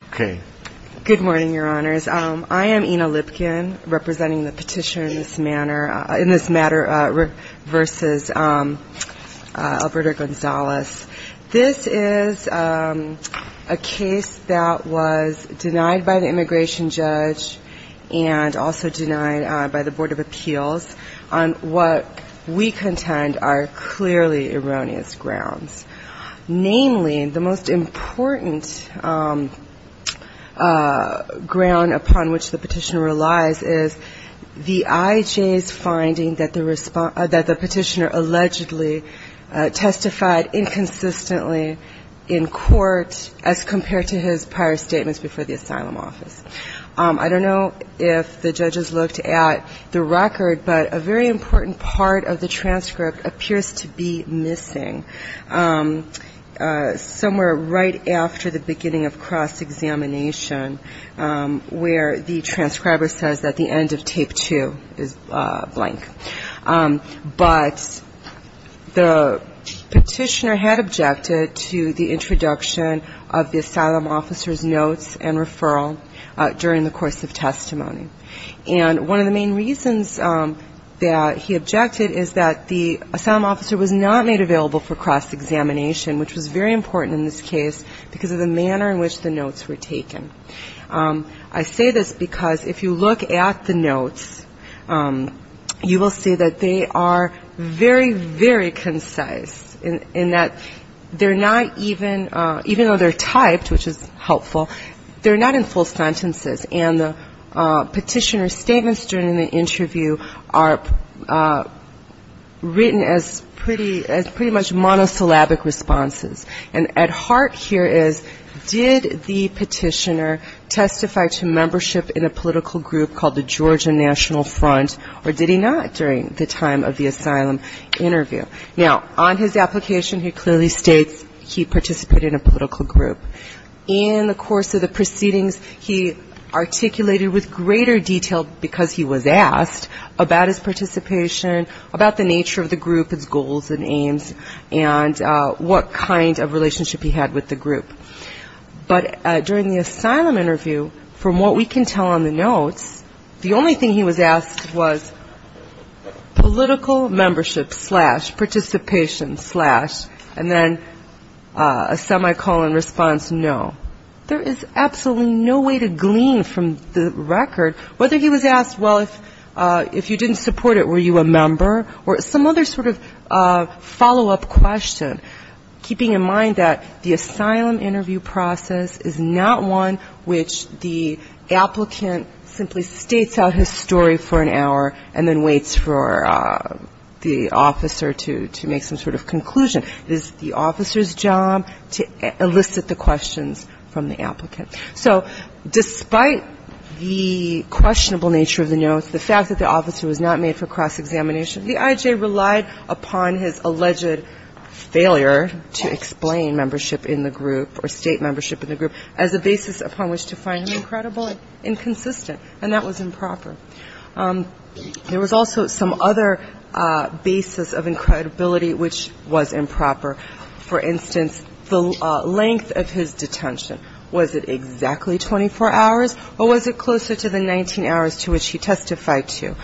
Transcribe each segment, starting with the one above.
This is a case that was denied by the immigration judge and also denied by the Board of Appeals on what we contend are clearly erroneous grounds. Namely, the most important ground upon which the petitioner relies is the I.J.'s finding that the petitioner allegedly testified inconsistently in court as compared to his prior statements before the asylum office. I don't know if the judges looked at the record, but a very important part of the transcript appears to be missing. Somewhere right after the beginning of cross-examination where the transcriber says that the end of tape two is blank. But the petitioner had objected to the introduction of the asylum officer's notes and referral during the course of testimony. And one of the main reasons that he objected is that the asylum officer was not made available for cross-examination, which was very important in this case because of the manner in which the notes were taken. I say this because if you look at the notes, you will see that they are very, very concise in that they're not even, even though they're typed, which is helpful, they're not in full sentences. And the petitioner's statements during the interview are written as pretty, as pretty much monosyllabic responses. And at heart here is, did the petitioner testify to membership in a political group called the Georgia National Front, or did he not during the time of the asylum interview? Now, on his application, he clearly states he participated in a political group. In the course of the proceedings, he articulated with greater detail, because he was asked, about his participation, about the nature of the group, its goals and aims, and what kind of relationship he had with the group. But during the asylum interview, from what we can tell on the notes, the only thing he was asked was political membership slash participation slash, and then a semicolon response, no. There is absolutely no way to glean from the record whether he was asked, well, if you didn't support it, were you a member, or some other sort of follow-up question, keeping in mind that the asylum interview process is not one which the applicant simply states out his story for an hour and then waits for the officer to make some sort of conclusion. It is the officer's job to elicit the questions from the applicant. So despite the questionable nature of the notes, the fact that the officer was not made for cross-examination, the I.J. relied upon his alleged failure to explain membership in the group or state membership in the group as a basis upon which to find him incredible and inconsistent, and that was improper. There was also some other basis of incredibility which was improper. For instance, the length of his detention. Was it exactly 24 hours, or was it closer to the 19 hours to which he testified to?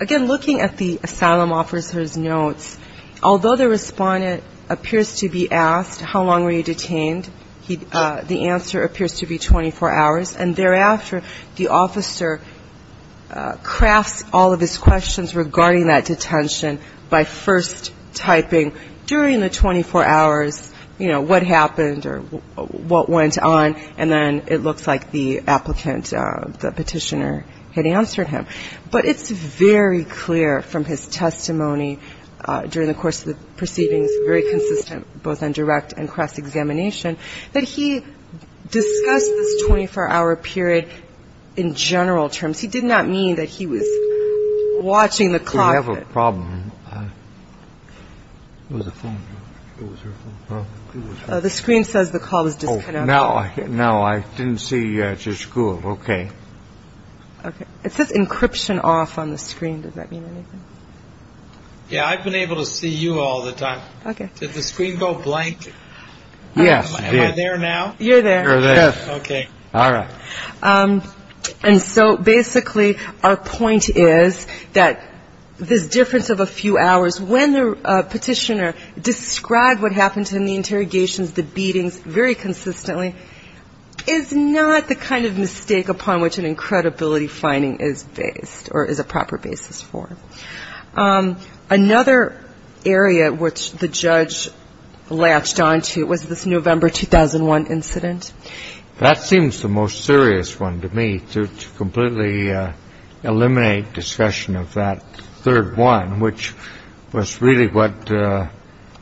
Again, looking at the asylum officer's notes, although the respondent appears to be asked, how long were you detained, the answer appears to be 24 hours. And thereafter, the officer crafts all of his questions regarding that detention by first typing during the 24 hours, you know, what happened or what went on, and then it looks like the applicant, the petitioner, had answered him. But it's very clear from his testimony during the course of the proceedings, very consistent, both on direct and cross-examination, that he discussed this 24-hour period in general terms. He did not mean that he was watching the clock. We have a problem with the phone. The screen says the call was just now. No, I didn't see your school. OK. It's this encryption off on the screen. Does that mean anything? Yeah, I've been able to see you all the time. OK. Did the screen go blank? Yes. Am I there now? You're there. OK. All right. And so basically, our point is that this difference of a few hours when the petitioner described what happened to him, the interrogations, the beatings very consistently, is not the kind of mistake upon which an incredibility finding is based or is a proper basis for. Another area which the judge latched onto was this November 2001 incident. That seems the most serious one to me to completely eliminate discussion of that third one, which was really what,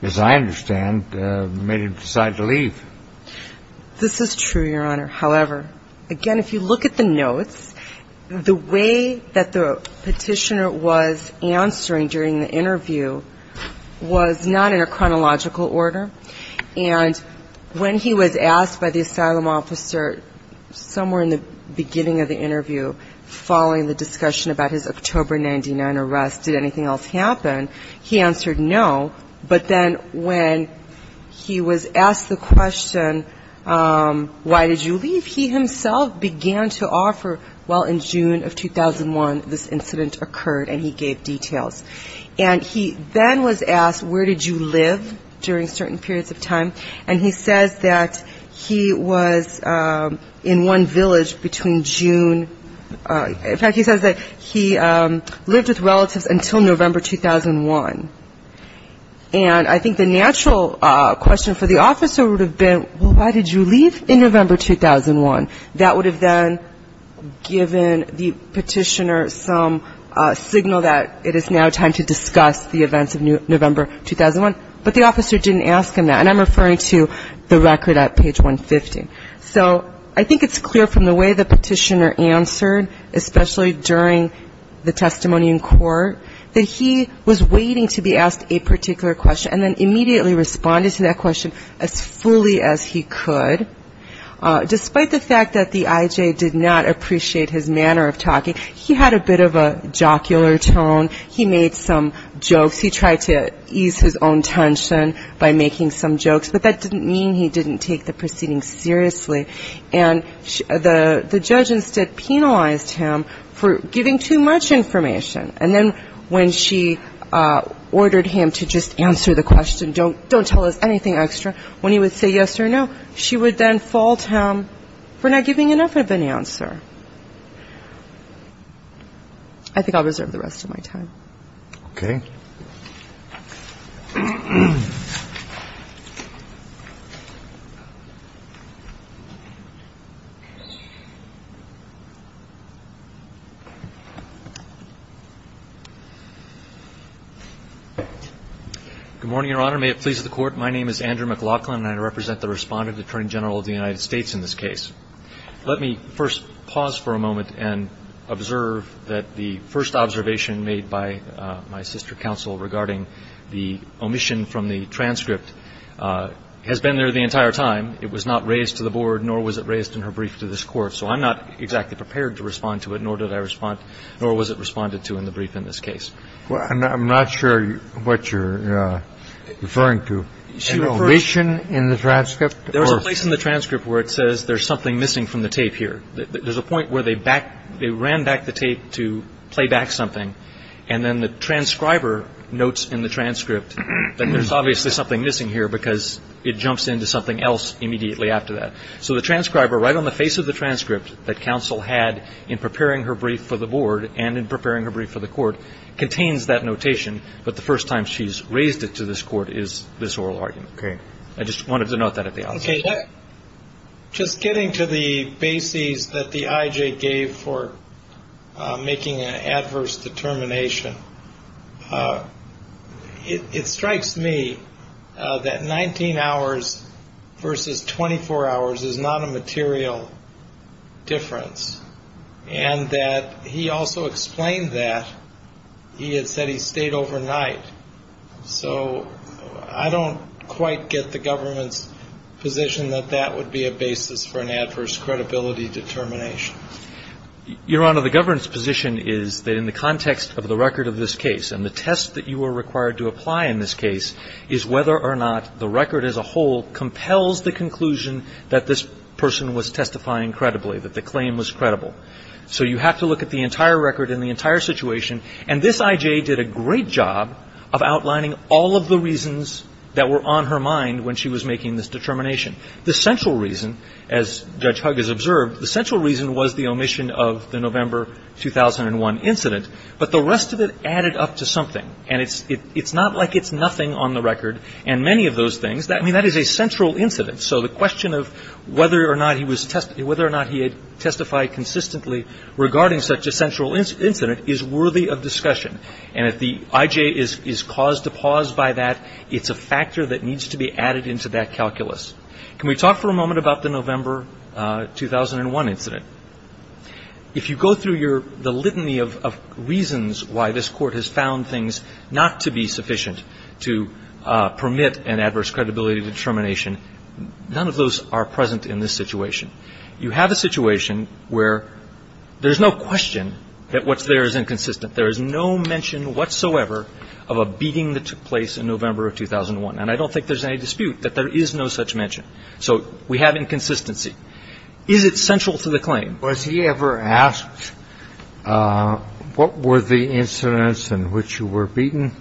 as I understand, made him decide to leave. This is true, Your Honor. However, again, if you look at the notes, the way that the petitioner was answering during the interview was not in a chronological order. And when he was asked by the asylum officer somewhere in the beginning of the interview following the discussion about his October 99 arrest, did anything else happen? He answered no. But then when he was asked the question, why did you leave, he himself began to offer, well, in June of 2001, this incident occurred and he gave details. And he then was asked, where did you live during certain periods of time? And he says that he was in one village between June, in fact, he says that he lived with relatives until November 2001. And I think the natural question for the officer would have been, well, why did you leave in November 2001? That would have then given the petitioner some signal that it is now time to discuss the events of November 2001. But the officer didn't ask him that. And I'm referring to the record at page 150. So I think it's clear from the way the petitioner answered, especially during the testimony in court, that he was waiting to be asked a particular question. And then immediately responded to that question as fully as he could. Despite the fact that the IJ did not appreciate his manner of talking, he had a bit of a jocular tone. He made some jokes. He tried to ease his own tension by making some jokes, but that didn't mean he didn't take the proceeding seriously. And the judge instead penalized him for giving too much information. And then when she ordered him to just answer the question, don't don't tell us anything extra, when he would say yes or no, she would then fault him for not giving enough of an answer. I think I'll reserve the rest of my time. OK. Good morning, Your Honor. May it please the court. My name is Andrew McLaughlin and I represent the respondent attorney general of the United States in this case. Let me first pause for a moment and observe that the first observation made by my sister counsel regarding the omission from the transcript has been there the entire time. It was not raised to the board, nor was it raised in her brief to this court. So I'm not exactly prepared to respond to it, nor did I respond, nor was it responded to in the brief in this case. Well, I'm not sure what you're referring to. So the omission in the transcript, there was a place in the transcript where it says there's something missing from the tape here. There's a point where they back they ran back the tape to play back something. And then the transcriber notes in the transcript that there's obviously something missing here because it jumps into something else immediately after that. So the transcriber right on the face of the transcript that counsel had in preparing her brief for the board and in preparing her brief for the court contains that notation. But the first time she's raised it to this court is this oral argument. Okay. I just wanted to note that at the. Okay. Just getting to the bases that the IJ gave for making an adverse determination. It strikes me that 19 hours versus 24 hours is not a material difference. And that he also explained that. He had said he stayed overnight, so I don't quite get the government's position that that would be a basis for an adverse credibility determination. Your Honor, the government's position is that in the context of the record of this case and the test that you were required to apply in this case is whether or not the record as a whole compels the conclusion that this person was testifying credibly, that the claim was credible. So you have to look at the entire record and the entire situation. And this IJ did a great job of outlining all of the reasons that were on her mind when she was making this determination. The central reason, as Judge Huggins observed, the central reason was the omission of the November 2001 incident. But the rest of it added up to something. And it's not like it's nothing on the record. And many of those things, I mean, that is a central incident. So the question of whether or not he had testified consistently regarding such a central incident is worthy of discussion. And if the IJ is caused to pause by that, it's a factor that needs to be added into that calculus. Can we talk for a moment about the November 2001 incident? If you go through the litany of reasons why this Court has found things not to be sufficient to permit an adverse credibility determination, none of those are present in this situation. You have a situation where there's no question that what's there is inconsistent. There is no mention whatsoever of a beating that took place in November of 2001. And I don't think there's any dispute that there is no such mention. So we have inconsistency. Is it central to the claim? Was he ever asked what were the incidents in which you were beaten?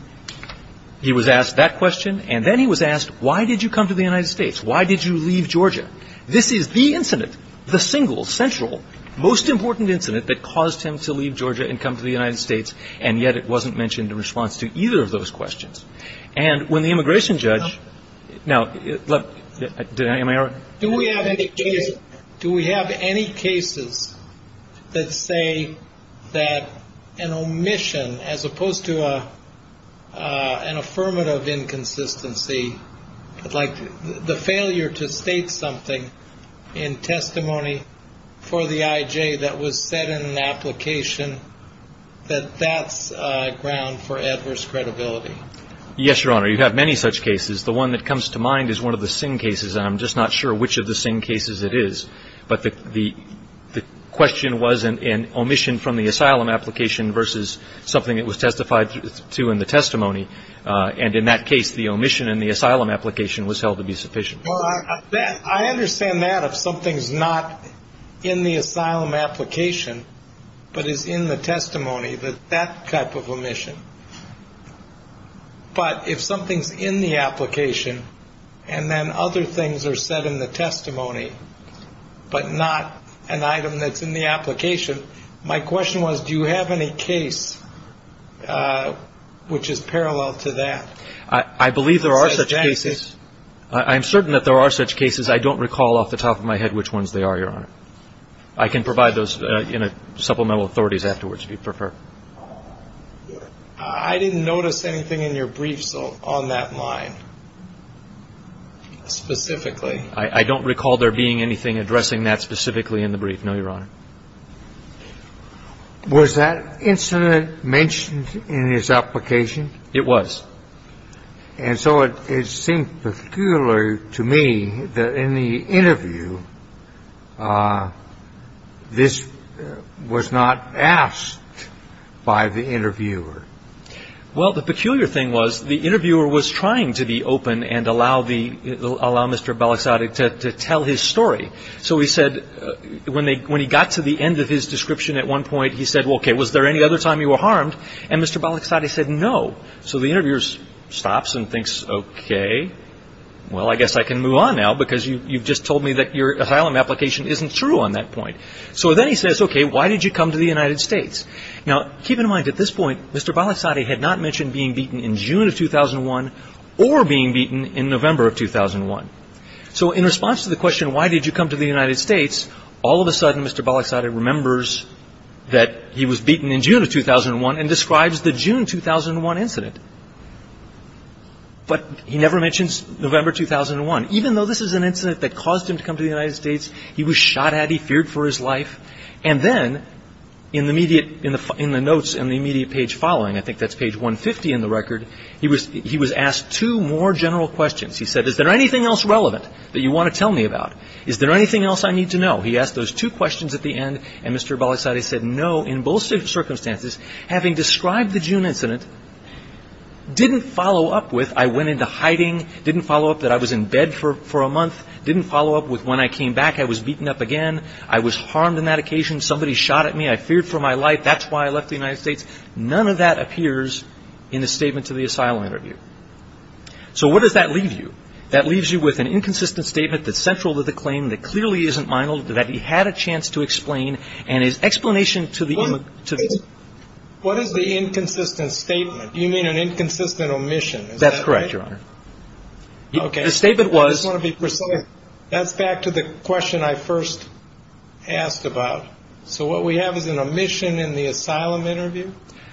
He was asked that question. And then he was asked, why did you come to the United States? Why did you leave Georgia? This is the incident, the single central, most important incident that caused him to leave Georgia and come to the United States. And yet it wasn't mentioned in response to either of those questions. And when the immigration judge. Now, look, do we have any do we have any cases that say that an omission as opposed to an affirmative inconsistency like the failure to state something in testimony for the IJ that was said in an application that that's ground for adverse credibility? Yes, Your Honor. You have many such cases. The one that comes to mind is one of the same cases. And I'm just not sure which of the same cases it is. But the question was an omission from the asylum application versus something that was testified to in the testimony. And in that case, the omission in the asylum application was held to be sufficient. Well, I understand that if something's not in the asylum application, but is in the testimony that that type of omission. But if something's in the application and then other things are said in the testimony, but not an item that's in the application, my question was, do you have any case which is parallel to that? I believe there are such cases. I'm certain that there are such cases. I don't recall off the top of my head which ones they are. Your Honor. I can provide those in a supplemental authorities afterwards, if you prefer. I didn't notice anything in your briefs on that line specifically. I don't recall there being anything addressing that specifically in the brief. No, Your Honor. Was that incident mentioned in his application? It was. And so it seemed peculiar to me that in the interview, this was not asked by the interviewer. Well, the peculiar thing was the interviewer was trying to be open and allow Mr. Balaxade to tell his story. So he said when he got to the end of his description at one point, he said, OK, was there any other time you were harmed? And Mr. Balaxade said no. So the interviewer stops and thinks, OK, well, I guess I can move on now because you've just told me that your asylum application isn't true on that point. So then he says, OK, why did you come to the United States? Now, keep in mind at this point, Mr. Balaxade had not mentioned being beaten in June of 2001 or being beaten in November of 2001. So in response to the question, why did you come to the United States? All of a sudden, Mr. Balaxade remembers that he was beaten in June of 2001 and describes the June 2001 incident. But he never mentions November 2001, even though this is an incident that caused him to come to the United States. He was shot at. He feared for his life. And then in the immediate in the in the notes and the immediate page following, I think that's page 150 in the record. He was he was asked two more general questions. He said, is there anything else relevant that you want to tell me about? Is there anything else I need to know? He asked those two questions at the end. And Mr. Balaxade said no. In both circumstances, having described the June incident. Didn't follow up with I went into hiding, didn't follow up that I was in bed for for a month, didn't follow up with when I came back, I was beaten up again. I was harmed in that occasion. Somebody shot at me. I feared for my life. That's why I left the United States. None of that appears in a statement to the asylum interview. So what does that leave you? That leaves you with an inconsistent statement that's central to the claim that clearly isn't minor, that he had a chance to explain and his explanation to the. What is the inconsistent statement? You mean an inconsistent omission? That's correct, Your Honor. OK, the statement was to be precise. That's back to the question I first asked about. So what we have is an omission in the asylum interview.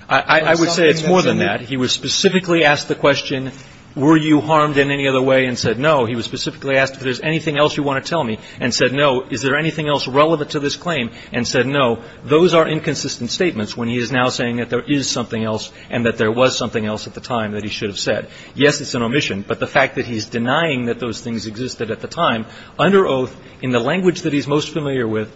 I would say it's more than that. He was specifically asked the question, were you harmed in any other way? And said, no. He was specifically asked if there's anything else you want to tell me and said, no. Is there anything else relevant to this claim? And said, no. Those are inconsistent statements when he is now saying that there is something else and that there was something else at the time that he should have said, yes, it's an omission. But the fact that he's denying that those things existed at the time under oath in the language that he's most familiar with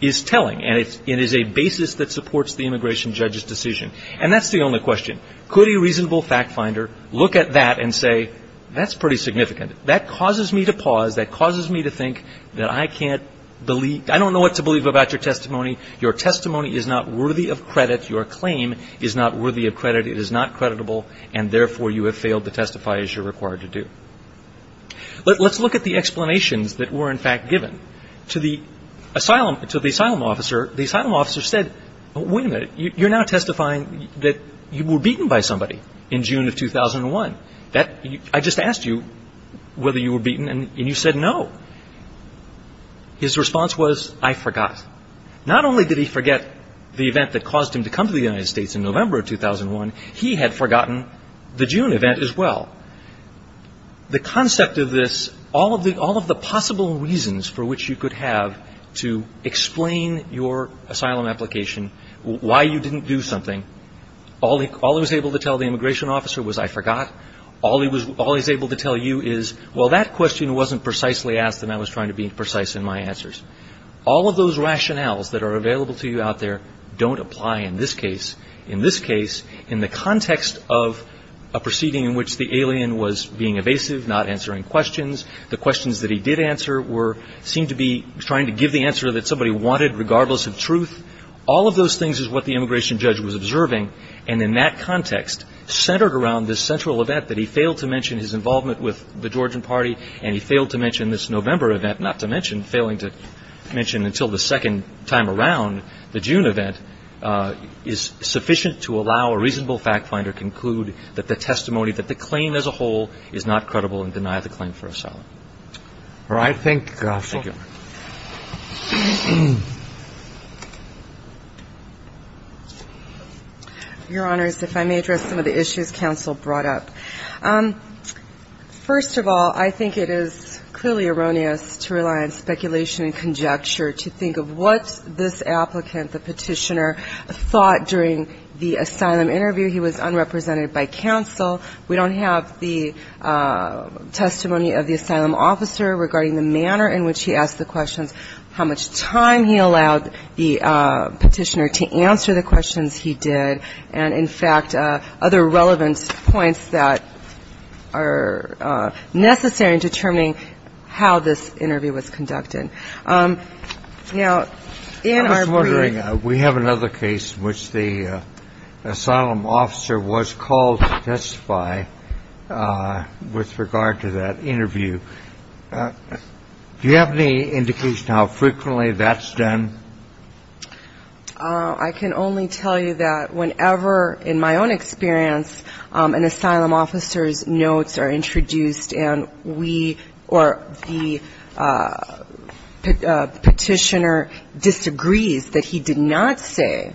is telling. And it is a basis that supports the immigration judge's decision. And that's the only question. Could a reasonable fact finder look at that and say, that's pretty significant. That causes me to pause. That causes me to think that I can't believe I don't know what to believe about your testimony. Your testimony is not worthy of credit. Your claim is not worthy of credit. It is not creditable. And therefore, you have failed to testify as you're required to do. But let's look at the explanations that were, in fact, given to the asylum to the asylum officer. The asylum officer said, wait a minute, you're now testifying that you were beaten by somebody in June of 2001. That I just asked you whether you were beaten and you said no. His response was, I forgot. Not only did he forget the event that caused him to come to the United States in November of 2001, he had forgotten the June event as well. The concept of this, all of the all of the possible reasons for which you could have to explain your asylum application, why you didn't do something. All he was able to tell the immigration officer was, I forgot. All he was able to tell you is, well, that question wasn't precisely asked and I was trying to be precise in my answers. All of those rationales that are available to you out there don't apply in this case. In the context of a proceeding in which the alien was being evasive, not answering questions. The questions that he did answer were, seemed to be trying to give the answer that somebody wanted regardless of truth. All of those things is what the immigration judge was observing. And in that context, centered around this central event that he failed to mention his involvement with the Georgian party. And he failed to mention this November event, not to mention failing to mention until the second time around. The June event is sufficient to allow a reasonable fact finder conclude that the testimony, that the claim as a whole is not credible and deny the claim for asylum. All right. Thank you, counsel. Your honors, if I may address some of the issues counsel brought up. First of all, I think it is clearly erroneous to rely on speculation and conjecture to think of what this applicant, the petitioner, thought during the asylum interview. He was unrepresented by counsel. We don't have the testimony of the asylum officer regarding the manner in which he asked the questions, how much time he allowed the petitioner to answer the questions he did. And in fact, other relevant points that are necessary in determining how this interview was conducted. Now, we have another case in which the asylum officer was called to testify with regard to that interview. Do you have any indication how frequently that's done? I can only tell you that whenever, in my own experience, an asylum officer's notes are introduced and we, or the petitioner disagrees that he did not say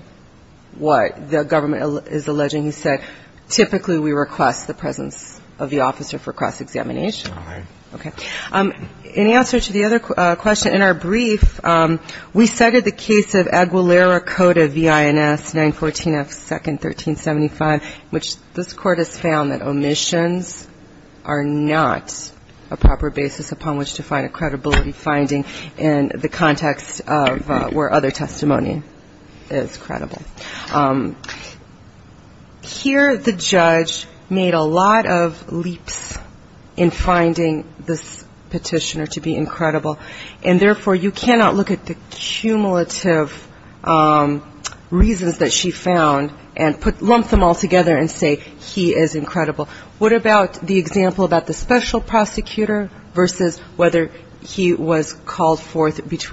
what the government is alleging, he said, typically we request the presence of the officer for cross-examination. All right. Okay. In answer to the other question, in our brief, we cited the case of Aguilera Cota V.I.N.S. 914 F. 2nd, 1375, which this court has found that omissions are not a proper basis upon which to find a credibility finding in the context of where other testimony is credible. Here, the judge made a lot of leaps in finding this petitioner to be incredible, and therefore, you cannot look at the cumulative reasons that she found and lump them all together and say he is incredible. What about the example about the special prosecutor versus whether he was called forth before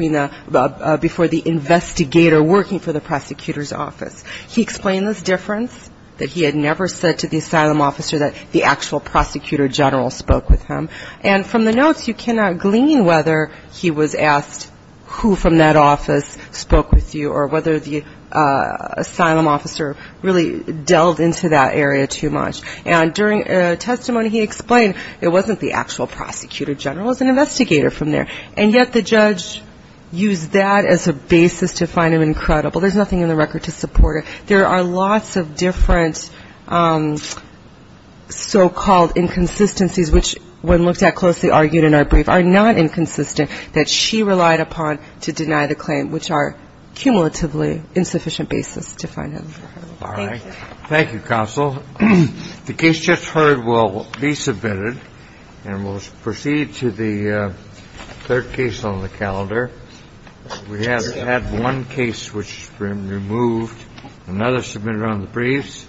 the investigator working for the prosecutor's office? He explained this difference, that he had never said to the asylum officer that the actual prosecutor general spoke with him. And from the notes, you cannot glean whether he was asked who from that office spoke with you or whether the asylum officer really delved into that area too much. And during a testimony, he explained it wasn't the actual prosecutor general. It was an investigator from there. And yet, the judge used that as a basis to find him incredible. There's nothing in the record to support it. There are lots of different so-called inconsistencies which, when looked at closely, argued in our brief, are not inconsistent that she relied upon to deny the claim, which are cumulatively insufficient basis to find him. All right. Thank you, Counsel. The case just heard will be submitted, and we'll proceed to the third case on the calendar. We have had one case which has been removed, another submitted on the briefs.